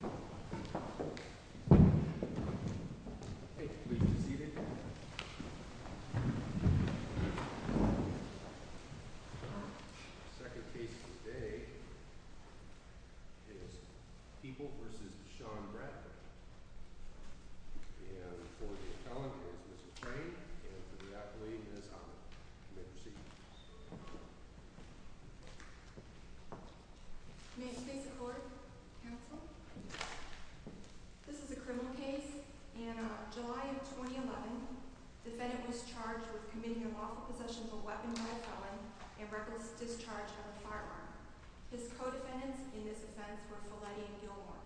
The second case of the day is People v. Sean Bradley, and for the appellant it is Mr. Frank, and for the athlete it is Ahmed. You may proceed. May it please the court, counsel. This is a criminal case. In July of 2011, the defendant was charged with committing unlawful possession of a weapon by a felon and reckless discharge of a firearm. His co-defendants in this offense were Feletti and Gilmore.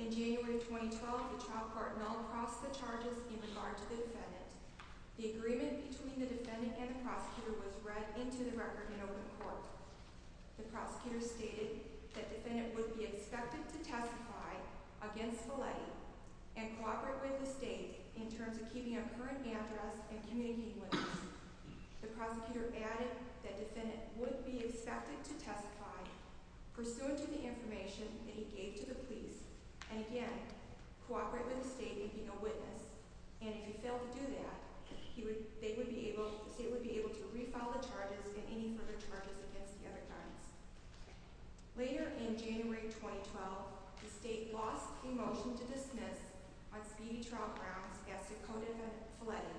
In January of 2012, the child court known crossed the charges in regard to the defendant. The agreement between the defendant and the prosecutor was read into the record in open court. The prosecutor stated that the defendant would be expected to testify against Feletti and cooperate with the state in terms of keeping a current address and communicating with us. The prosecutor added that the defendant would be expected to testify pursuant to the information that he gave to the police, and again, cooperate with the state in being a witness, and if he failed to do that, the state would be able to refile the charges and any further charges against the other defendants. Later in January of 2012, the state lost a motion to dismiss on speedy trial grounds against a co-defendant, Feletti,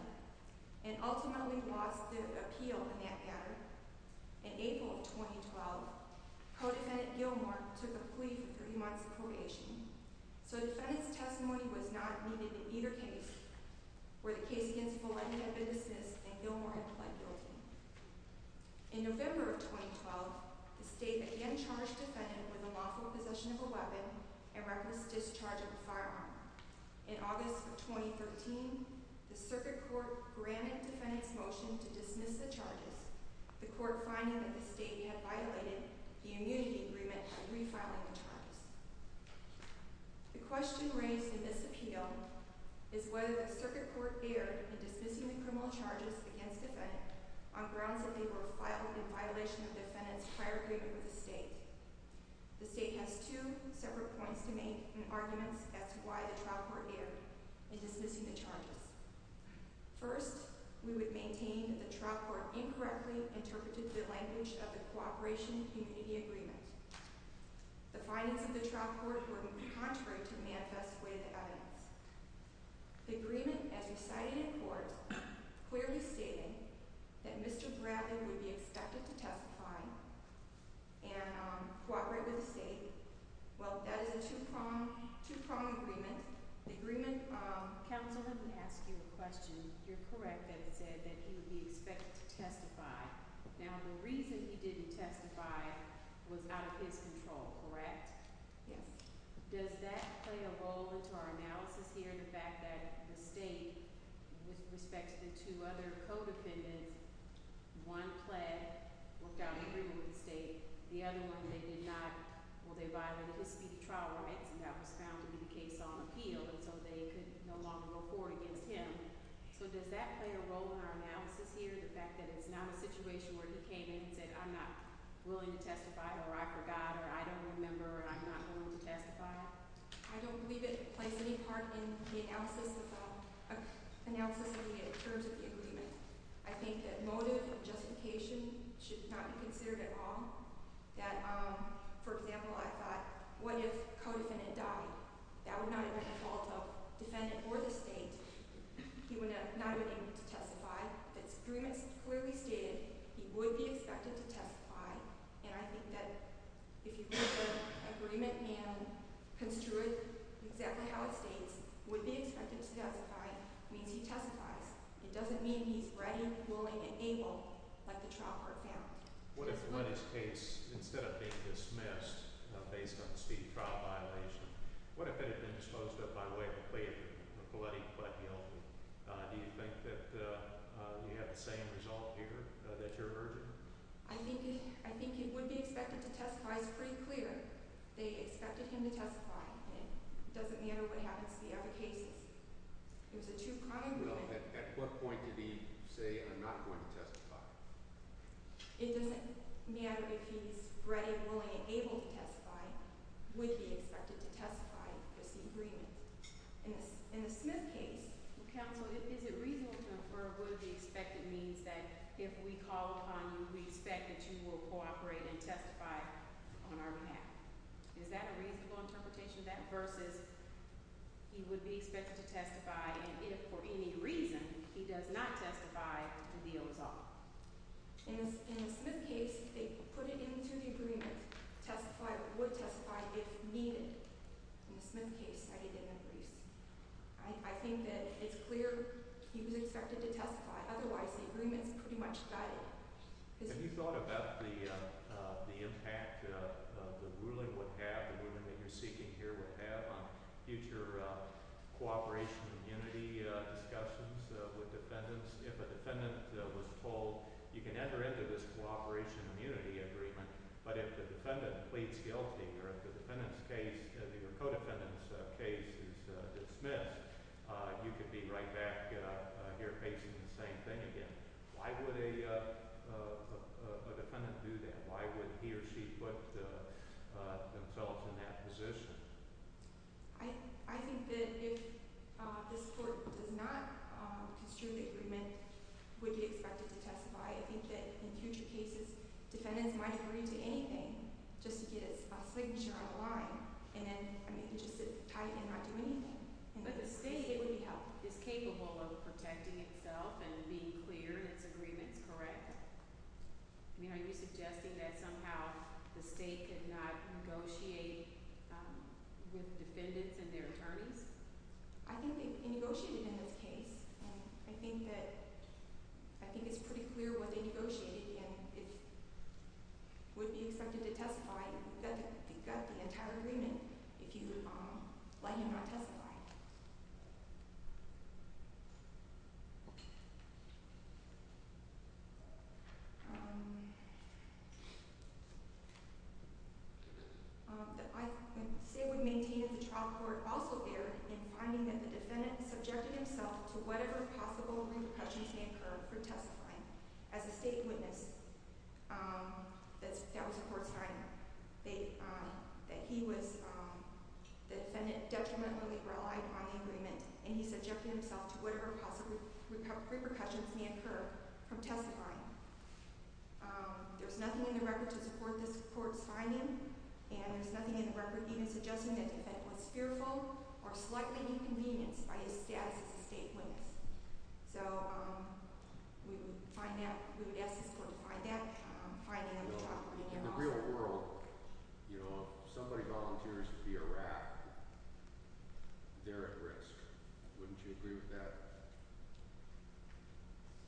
and ultimately lost the appeal in that matter. In April of 2012, co-defendant Gilmore took a plea for three months of probation, so the defendant's testimony was not needed in either case where the case against Feletti had been dismissed and Gilmore had pled guilty. In November of 2012, the state again charged the defendant with the lawful possession of a weapon and reckless discharge of a firearm. In August of 2013, the circuit court granted the defendant's motion to dismiss the charges, the court finding that the state had violated the immunity agreement by refiling the charges. The question raised in this appeal is whether the circuit court erred in dismissing the criminal charges against the defendant on grounds that they were filed in violation of the defendant's hierarchy with the state. The state has two separate points to make in arguments as to why the trial court erred in dismissing the charges. First, we would maintain that the trial court incorrectly interpreted the language of the cooperation immunity agreement. The findings of the trial court were contrary to the manifest way of the evidence. The agreement, as recited in court, clearly stated that Mr. Bradley would be expected to testify and cooperate with the state. Well, that is a two-prong agreement. The agreement, counsel, let me ask you a question. You're correct that it said that he would be expected to testify. Now, the reason he didn't testify was out of his control, correct? Yes. I don't believe it plays any part in the analysis of the terms of the agreement. I think that motive and justification should not be considered at all. That, for example, I thought, what if the co-defendant died? That would not have been the fault of the defendant or the state. He would not have been able to testify. The fact that the agreement clearly stated he would be expected to testify, and I think that if you put the agreement and construe it exactly how it states, would be expected to testify, means he testifies. It doesn't mean he's ready, willing, and able like the trial court found. What if, in Lenny's case, instead of being dismissed based on the speedy trial violation, what if it had been disposed of by way of a plea agreement, a bloody but guilty? Do you think that you have the same result here, that you're urging? I think he would be expected to testify. It's pretty clear. They expected him to testify. It doesn't matter what happens to the other cases. It was a two-prong agreement. Well, at what point did he say, I'm not going to testify? It doesn't matter if he's ready, willing, and able to testify, would be expected to testify with the agreement. In the Smith case, counsel, is it reasonable to infer would be expected means that if we call upon you, we expect that you will cooperate and testify on our behalf. Is that a reasonable interpretation of that versus he would be expected to testify, and if for any reason he does not testify, the deal is off? In the Smith case, they put it into the agreement, testify or would testify if needed. In the Smith case, I didn't agree. I think that it's clear he was expected to testify. Otherwise, the agreement is pretty much guided. Have you thought about the impact the ruling would have, the ruling that you're seeking here would have on future cooperation and unity discussions with defendants? If a defendant was told, you can enter into this cooperation and unity agreement, but if the defendant pleads guilty or if the defendant's case, your co-defendant's case is dismissed, you could be right back here facing the same thing again. Why would a defendant do that? Why would he or she put themselves in that position? I think that if this court does not construe the agreement, would be expected to testify. I think that in future cases, defendants might agree to anything just to get a signature on the line. But the state is capable of protecting itself and being clear in its agreements, correct? Are you suggesting that somehow the state could not negotiate with defendants and their attorneys? I think they negotiated in this case, and I think it's pretty clear what they negotiated, and it would be expected to testify. You've got the entire agreement if you let him not testify. The state would maintain if the trial court also erred in finding that the defendant subjected himself to whatever possible repercussions may occur for testifying. There's nothing in the record to support this court's finding, and there's nothing in the record even suggesting that the defendant was fearful or slightly inconvenienced by his status as a state witness. So we would ask this court to find that. In the real world, if somebody volunteers to be a rat, they're at risk. Wouldn't you agree with that?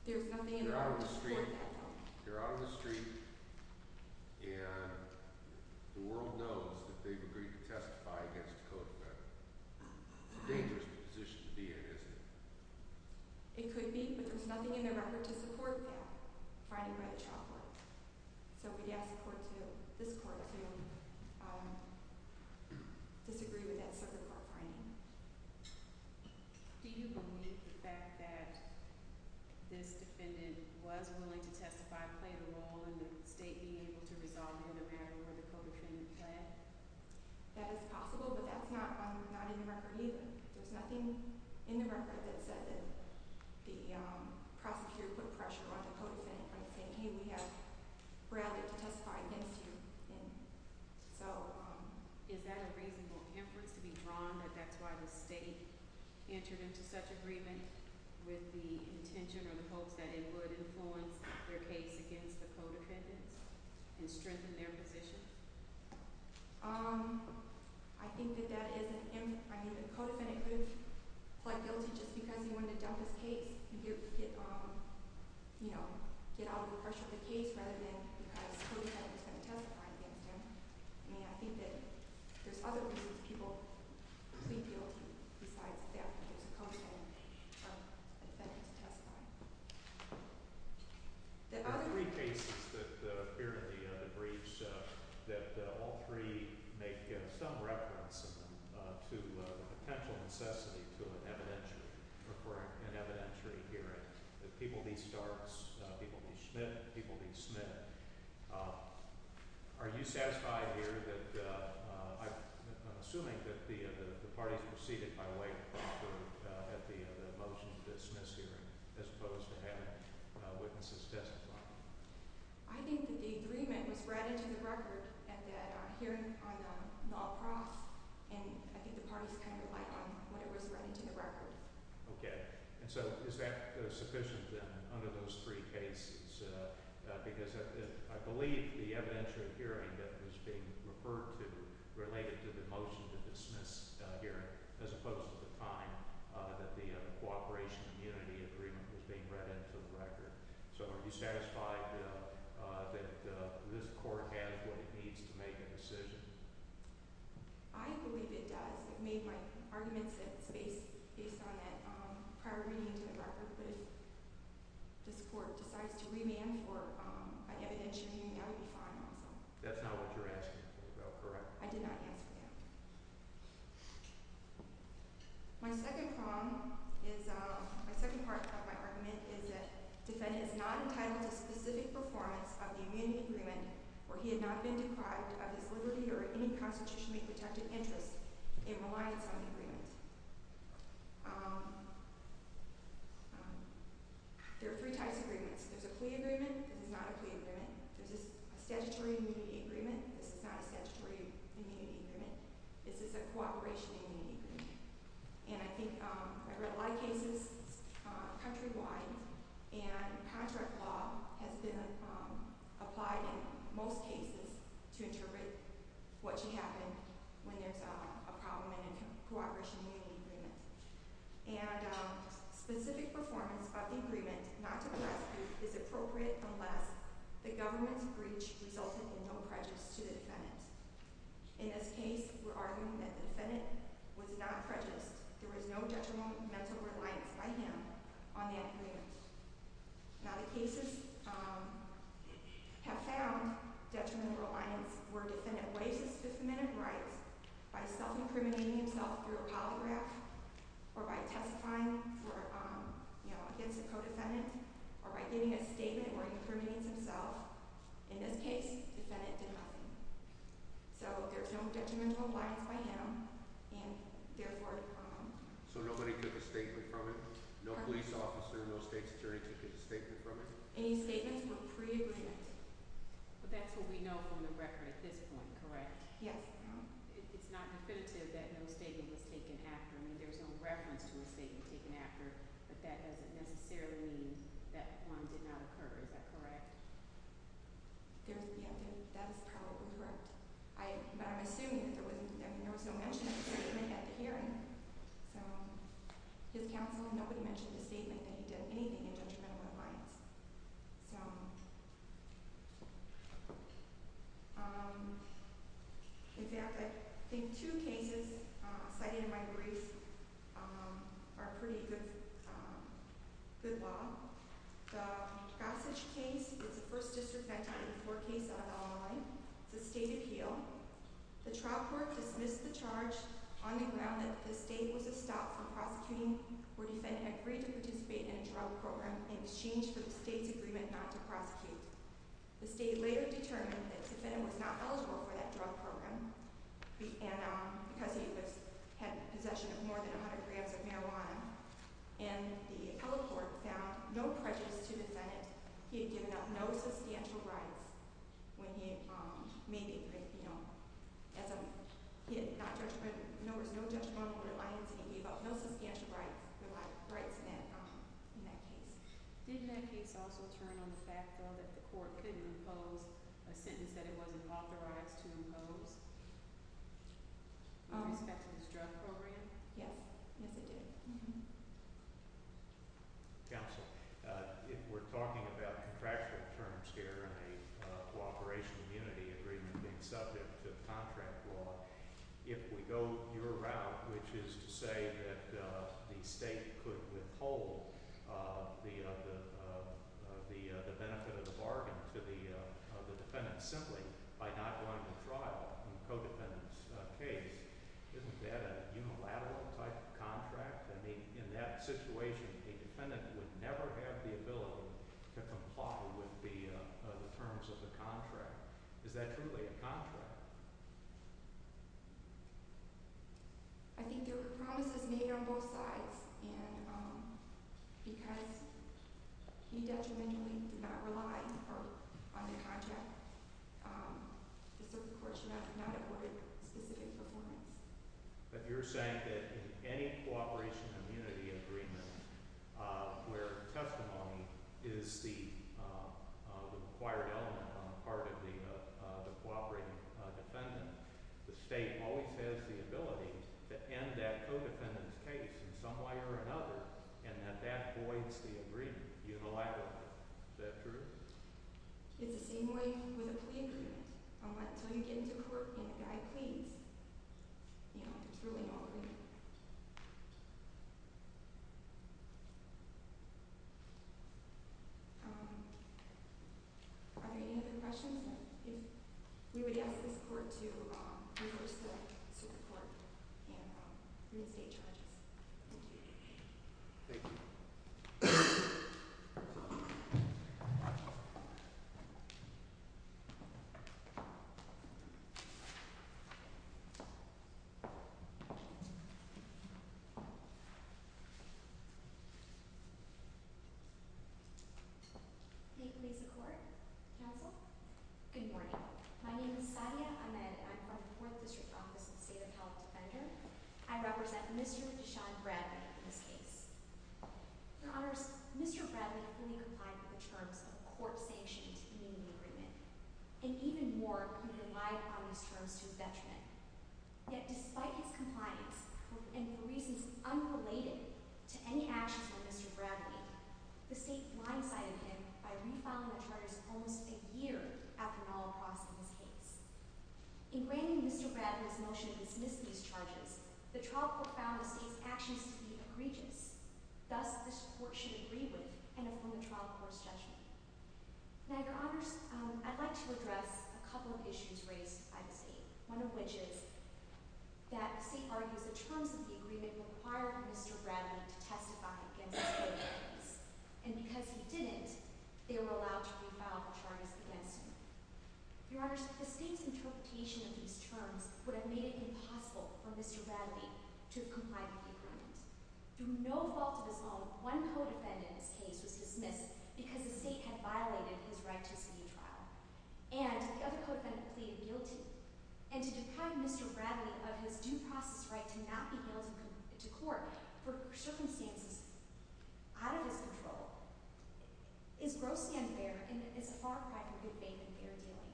There's nothing in the record to support that. They're out on the street, and the world knows that they've agreed to testify against a code of ethics. It's a dangerous position to be in, isn't it? It could be, but there's nothing in the record to support that finding by the trial court. So we'd ask this court to disagree with that circuit court finding. Do you believe the fact that this defendant was willing to testify played a role in the state being able to resolve it in a manner where the co-defendant fled? That is possible, but that's not in the record either. There's nothing in the record that says that the prosecutor put pressure on the co-defendant by saying, hey, we'd rather testify against you. Is that a reasonable inference to be drawn, that that's why the state entered into such agreement with the intention or the hopes that it would influence their case against the co-defendant and strengthen their position? I think that that is an inference. The co-defendant could have fled guilty just because he wanted to dump his case and get out of the pressure of the case rather than because the co-defendant was going to testify against him. I think that there's other reasons people plead guilty besides the fact that there's a co-defendant from the defendant to testify. There are three cases here in the briefs that all three make some reference to the potential necessity to an evidentiary hearing. People need Starks, people need Smith, people need Smith. Are you satisfied here that, I'm assuming that the parties proceeded by way of pressure at the motion to dismiss hearing as opposed to having witnesses testify? I think that the agreement was read into the record at that hearing on Nall Cross, and I think the parties relied on what was read into the record. Okay, and so is that sufficient then under those three cases? Because I believe the evidentiary hearing that was being referred to related to the motion to dismiss hearing as opposed to the time that the cooperation and unity agreement was being read into the record. So are you satisfied that this court has what it needs to make a decision? I believe it does. It made my argument that it's based on that prior reading into the record, but if this court decides to remand for an evidentiary hearing, that would be fine also. That's not what you're asking for, though, correct? I did not ask for that. My second part of my argument is that the defendant is not entitled to specific performance of the immunity agreement, or he had not been deprived of his liberty or any constitutionally protected interest in reliance on the agreement. There are three types of agreements. There's a plea agreement. This is not a plea agreement. There's a statutory immunity agreement. This is not a statutory immunity agreement. This is a cooperation and unity agreement. And I think I read a lot of cases countrywide, and contract law has been applied in most cases to interpret what should happen when there's a problem in a cooperation and unity agreement. And specific performance of the agreement not to press is appropriate unless the government's breach resulted in no prejudice to the defendant. In this case, we're arguing that the defendant was not prejudiced. There was no detrimental reliance by him on that agreement. Now, the cases have found detrimental reliance where a defendant waives his Fifth Amendment rights by self-incriminating himself through a polygraph, or by testifying against a co-defendant, or by giving a statement where he incriminates himself. In this case, the defendant did nothing. So there's no detrimental reliance by him, and therefore… So nobody took a statement from it? No police officer, no state's attorney took a statement from it? Any statements were pre-agreed. But that's what we know from the record at this point, correct? Yes. It's not definitive that no statement was taken after. I mean, there's no reference to a statement taken after, but that doesn't necessarily mean that one did not occur. Is that correct? Yeah, I think that's probably correct. But I'm assuming that there was no mention of a statement at the hearing. So his counsel and nobody mentioned a statement that he did anything in detrimental reliance. In fact, I think two cases cited in my brief are pretty good law. The Gossage case is a First District Vector 84 case out of Illinois. It's a state appeal. The trial court dismissed the charge on the ground that the state was a stop from prosecuting where the defendant agreed to participate in a drug program in exchange for the state's agreement not to prosecute. The state later determined that the defendant was not eligible for that drug program because he had possession of more than 100 grams of marijuana. And the appellate court found no prejudice to the defendant. He had given up no substantial rights when he made it, you know, as a – he had not – there was no detrimental reliance, and he gave up no substantial rights in that case. Did that case also turn on the fact, though, that the court couldn't impose a sentence that it wasn't authorized to impose with respect to this drug program? Yes. Yes, it did. Counsel, if we're talking about contractual terms here and a cooperation immunity agreement being subject to contract law, if we go your route, which is to say that the state could withhold the benefit of the bargain to the defendant simply by not going to trial in the codependent's case, isn't that a unilateral type of contract? I mean, in that situation, a defendant would never have the ability to comply with the terms of the contract. Is that truly a contract? I think there were promises made on both sides, and because he detrimentally did not rely on the contract, the circuit court should not have ordered specific performance. But you're saying that in any cooperation immunity agreement where testimony is the required element on the part of the cooperating defendant, the state always has the ability to end that codependent's case in some way or another and that that voids the agreement unilaterally. Is that true? It's the same way with a plea agreement. Until you get into court and a guy pleads, it's really not an agreement. Are there any other questions? If we would ask this court to reverse the circuit court and reinstate judges. Thank you. Thank you. Thank you. Thank you. Thank you. Thank you. Thank you. Thank you. May it please the court? Counsel? Despite his compliance and for reasons unrelated to any actions of Mr. Bradley, the state blindsided him by re-filing the charges almost a year after an all-across of his case. In granting Mr. Bradley's motion to dismiss these charges, the trial court found the state's actions to be egregious. Thus, this court should agree with and affirm the trial court's judgment. Now, Your Honors, I'd like to address a couple of issues raised by the state, one of which is that the state argues the terms of the agreement required Mr. Bradley to testify against his plea case. And because he didn't, they were allowed to re-file the charges against him. Your Honors, the state's interpretation of these terms would have made it impossible for Mr. Bradley to comply with the agreement. Through no fault of his own, one co-defendant in this case was dismissed because the state had violated his right to see a trial. And the other co-defendant pleaded guilty. And to deprive Mr. Bradley of his due process right to not be guilty to court for circumstances out of his control is grossly unfair and is a far cry from good faith and fair dealing.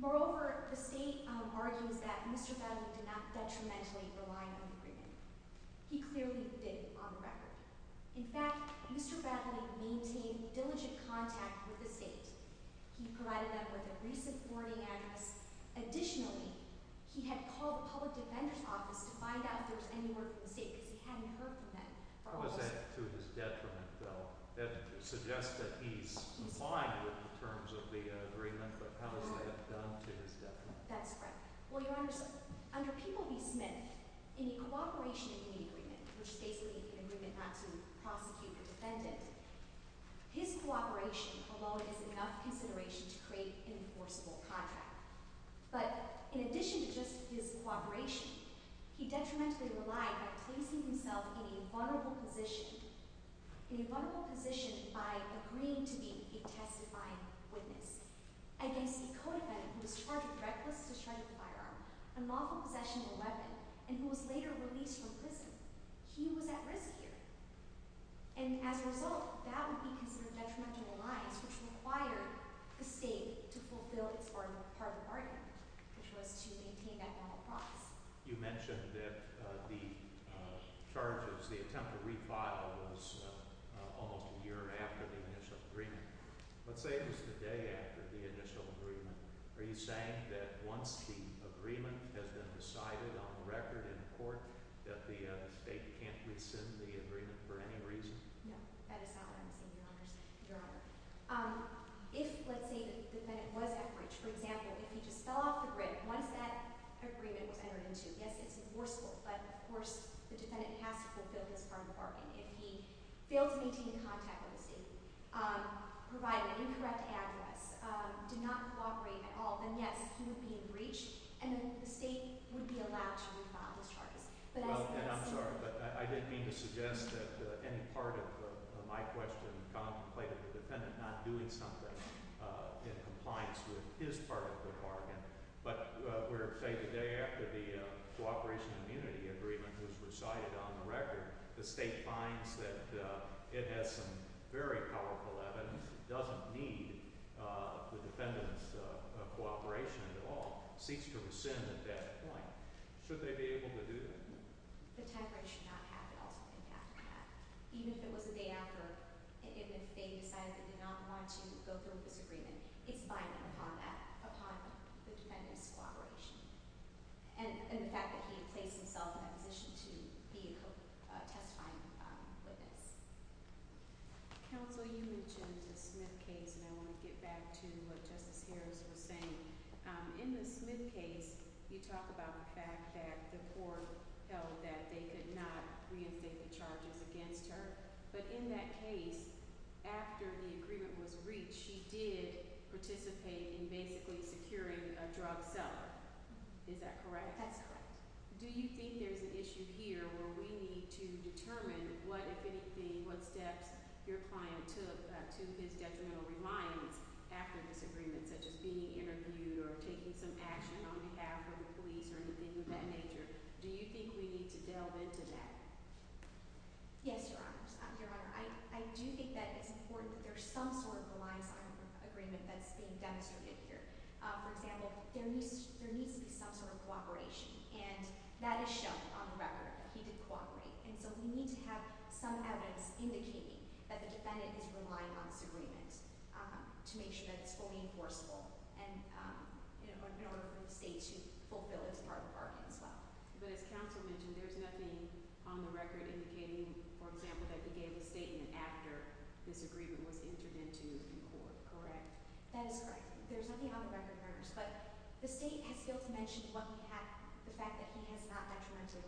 Moreover, the state argues that Mr. Bradley did not detrimentally rely on the agreement. He clearly didn't, on the record. In fact, Mr. Bradley maintained diligent contact with the state. He provided them with a recent boarding address. Additionally, he had called the public defender's office to find out if there was any word from the state because he hadn't heard from them for almost— How is that to his detriment, though? That suggests that he's complying with the terms of the agreement, but how is that done to his detriment? That's correct. Well, Your Honors, under People v. Smith, in a cooperation agreement, which is basically an agreement not to prosecute the defendant, his cooperation, although it is enough consideration to create an enforceable contract, but in addition to just his cooperation, he detrimentally relied on placing himself in a vulnerable position, in a vulnerable position by agreeing to be a testified witness against the co-defendant who was charged with reckless discharge of a firearm, unlawful possession of a weapon, and who was later released from prison. He was at risk here. And as a result, that would be considered detrimental to the lives, which required the state to fulfill its part of the bargain, which was to maintain that formal promise. You mentioned that the charges, the attempt to refile, was almost a year after the initial agreement. Let's say it was the day after the initial agreement. Are you saying that once the agreement has been decided on the record in court, that the state can't rescind the agreement for any reason? No, that is not what I'm saying, Your Honors. If, let's say, the defendant was at risk, for example, if he just fell off the bridge, once that agreement was entered into, yes, it's enforceable, but of course, the defendant has to fulfill his part of the bargain. If he failed to maintain contact with the state, provided an incorrect address, did not cooperate at all, then yes, he would be breached, and the state would be allowed to refile his charges. And I'm sorry, but I didn't mean to suggest that any part of my question contemplated the defendant not doing something in compliance with his part of the bargain. But, let's say, the day after the cooperation and unity agreement was recited on the record, the state finds that it has some very powerful evidence, doesn't need the defendant's cooperation at all, seeks to rescind at that point. Should they be able to do that? The temporary should not have to also think after that. Even if it was the day after, and if they decided they did not want to go through with this agreement, it's binding upon that, upon the defendant's cooperation, and the fact that he placed himself in a position to be a testifying witness. Counsel, you mentioned the Smith case, and I want to get back to what Justice Harris was saying. In the Smith case, you talk about the fact that the court held that they could not reinstate the charges against her, but in that case, after the agreement was reached, she did participate in basically securing a drug seller. Is that correct? That's correct. Do you think there's an issue here where we need to determine what, if anything, what steps your client took to his detrimental reliance after this agreement, such as being interviewed or taking some action on behalf of the police or anything of that nature? Do you think we need to delve into that? Yes, Your Honor. Your Honor, I do think that it's important that there's some sort of reliance on agreement that's being demonstrated here. For example, there needs to be some sort of cooperation, and that is shown on the record, that he did cooperate. And so we need to have some evidence indicating that the defendant is relying on this agreement to make sure that it's fully enforceable, and in order for the state to fulfill its part of the bargain as well. But as counsel mentioned, there's nothing on the record indicating, for example, that he gave a statement after this agreement was entered into the court, correct? That is correct. There's nothing on the record, Your Honor. But the state has failed to mention the fact that he has not detrimentally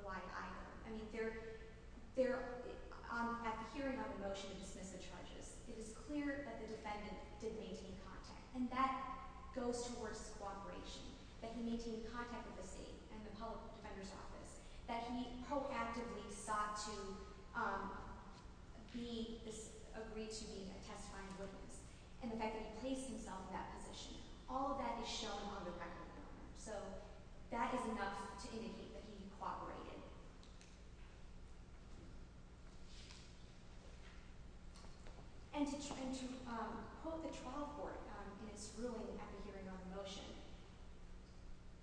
relied either. I mean, at the hearing on the motion to dismiss the charges, it is clear that the defendant didn't maintain contact. And that goes towards cooperation, that he maintained contact with the state and the public defender's office, that he proactively sought to agree to be a testifying witness, and the fact that he placed himself in that position. All of that is shown on the record, Your Honor. So that is enough to indicate that he cooperated. And to quote the trial court in its ruling at the hearing on the motion,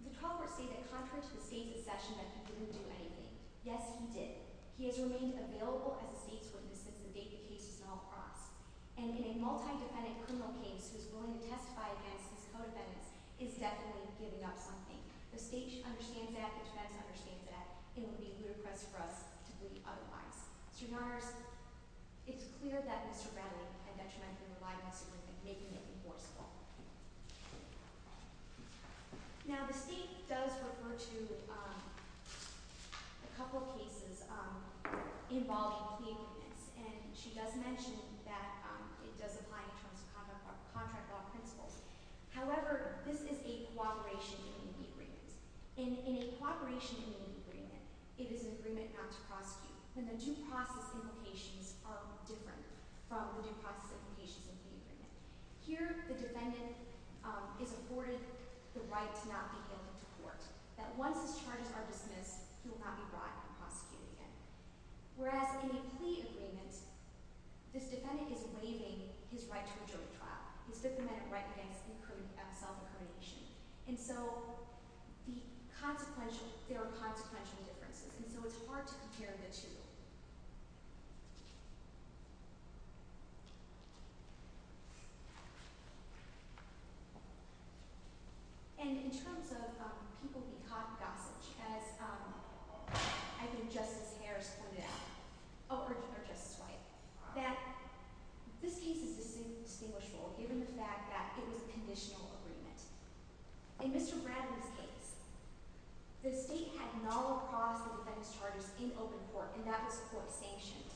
the trial court stated, contrary to the state's accession, that he didn't do anything. Yes, he did. He has remained available as a state's witness since the date the case was called across. And in a multi-defendant criminal case, who's willing to testify against his co-defendants, is definitely giving up something. The state understands that. The defense understands that. It would be ludicrous for us to plead otherwise. So, Your Honors, it's clear that Mr. Bradley had detrimentally relied on Mr. Lincoln, making it enforceable. Now, the state does refer to a couple of cases involving plea agreements. And she does mention that it does apply in terms of contract law principles. However, this is a cooperation in a plea agreement. In a cooperation in a plea agreement, it is an agreement not to prosecute. And the due process implications are different from the due process implications of a plea agreement. Here, the defendant is afforded the right to not be guilty to court. That once his charges are dismissed, he will not be brought and prosecuted again. Whereas in a plea agreement, this defendant is waiving his right to a jury trial. This defendant recognizes self-incrimination. And so the consequential – there are consequential differences. And so it's hard to compare the two. And in terms of people being caught in gossage, as I think Justice Harris pointed out – or Justice White – that this case is distinguishable, given the fact that it was a conditional agreement. In Mr. Bradley's case, the state had null across the defendant's charges in open court. And that was court-sanctioned.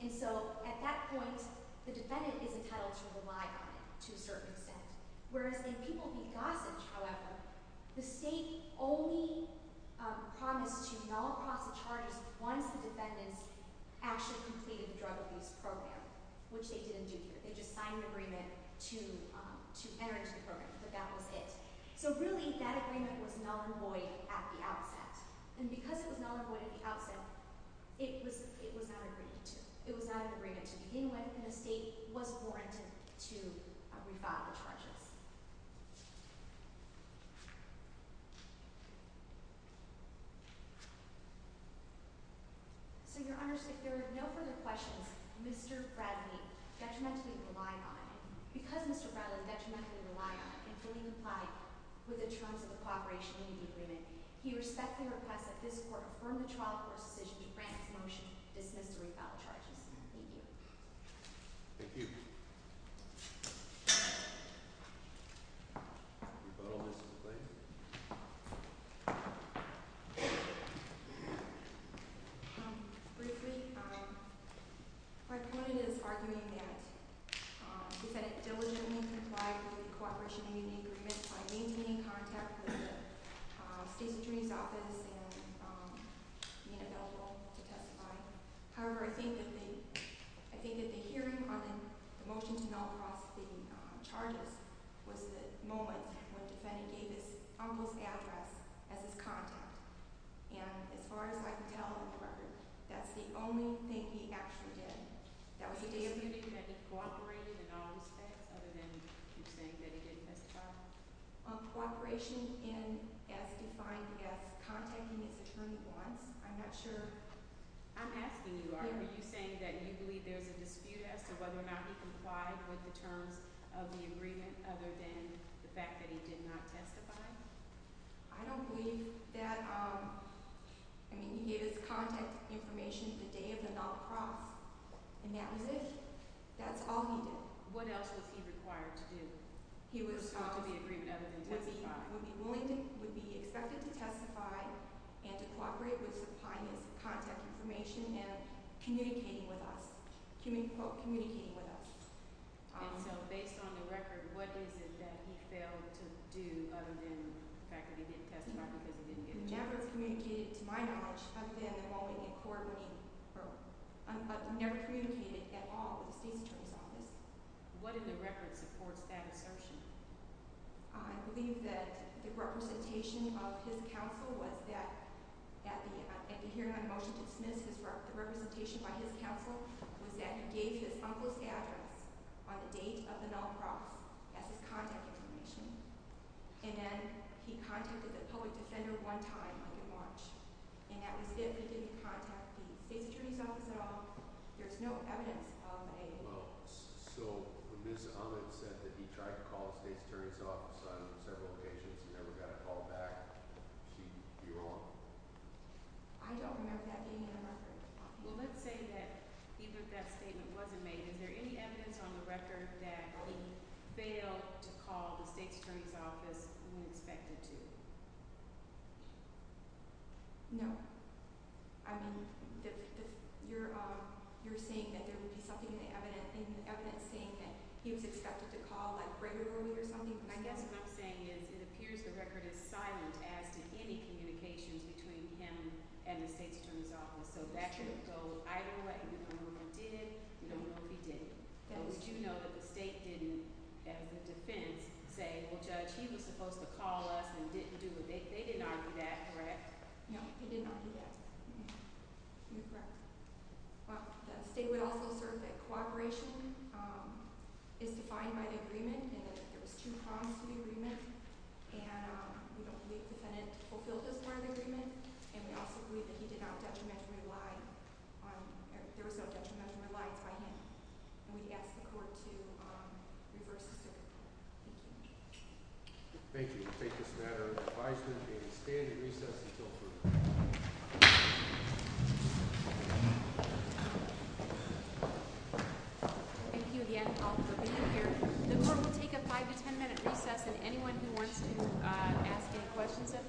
And so at that point, the defendant is entitled to rely on it to a certain extent. Whereas in people being gossaged, however, the state only promised to null across the charges once the defendants actually completed the drug abuse program, which they didn't do here. They just signed an agreement to enter into the program. But that was it. So really, that agreement was null and void at the outset. And because it was null and void at the outset, it was not agreed to. It was not an agreement to begin with, and the state was warranted to revile the charges. So, Your Honors, if there are no further questions, Mr. Bradley detrimentally relied on it. Because Mr. Bradley detrimentally relied on it and fully complied with the terms of the cooperation agreement, he respectfully requests that this Court affirm the trial court's decision to grant this motion, dismiss the reviled charges. Thank you. Thank you. We vote on this as a claim. Briefly, my point is arguing that the defendant diligently complied with the cooperation agreement by maintaining contact with the State's Attorney's Office and being available to testify. However, I think that the hearing on the motion to null across the charges was the moment when the defendant gave his uncle's address as his contact. And as far as I can tell on the record, that's the only thing he actually did. That was the day of the hearing. Are you saying that he cooperated in all respects other than you're saying that he did testify? Cooperation in as defined as contacting his attorney once. I'm not sure. I'm asking you are. Are you saying that you believe there's a dispute as to whether or not he complied with the terms of the agreement other than the fact that he did not testify? I don't believe that. I mean, he gave his contact information the day of the null across, and that was it. That's all he did. What else was he required to do? He was supposed to be agreed with other than testify. Would be willing to, would be expected to testify and to cooperate with supplying his contact information and communicating with us, communicating with us. And so based on the record, what is it that he failed to do other than the fact that he didn't testify because he didn't get a job? Never communicated, to my knowledge, other than involving in coordinating or never communicated at all with the state attorney's office. What in the record supports that assertion? I believe that the representation of his counsel was that at the hearing on the motion to dismiss, the representation by his counsel was that he gave his uncle's address on the date of the null across as his contact information. And then he contacted the public defender one time, like in March. And that was if he didn't contact the state attorney's office at all. There's no evidence of a... Well, so when Ms. Ahmed said that he tried to call the state attorney's office on several occasions and never got a call back, she, you're wrong? I don't remember that being in the record. Well, let's say that even if that statement wasn't made, is there any evidence on the record that he failed to call the state attorney's office when expected to? No. I mean, you're saying that there would be something in the evidence saying that he was expected to call, like, regularly or something? I guess what I'm saying is it appears the record is silent as to any communications between him and the state attorney's office. So that could go either way. You don't know if he did it. You don't know if he didn't. But would you know that the state didn't, as a defense, say, well, Judge, he was supposed to call us and didn't do it? They didn't argue that, correct? No, he didn't argue that. You're correct. Well, the state would also assert that cooperation is defined by the agreement and that there was two prongs to the agreement. And we don't believe the defendant fulfilled this part of the agreement. And we also believe that he did not detrimentally lie on – there was no detrimental lies by him. And we'd ask the court to reverse the circuit. Thank you. Thank you. We take this matter to the advisory committee. We stand at recess until approval. Thank you again all for being here. The court will take a five- to ten-minute recess. And anyone who wants to ask any questions at the –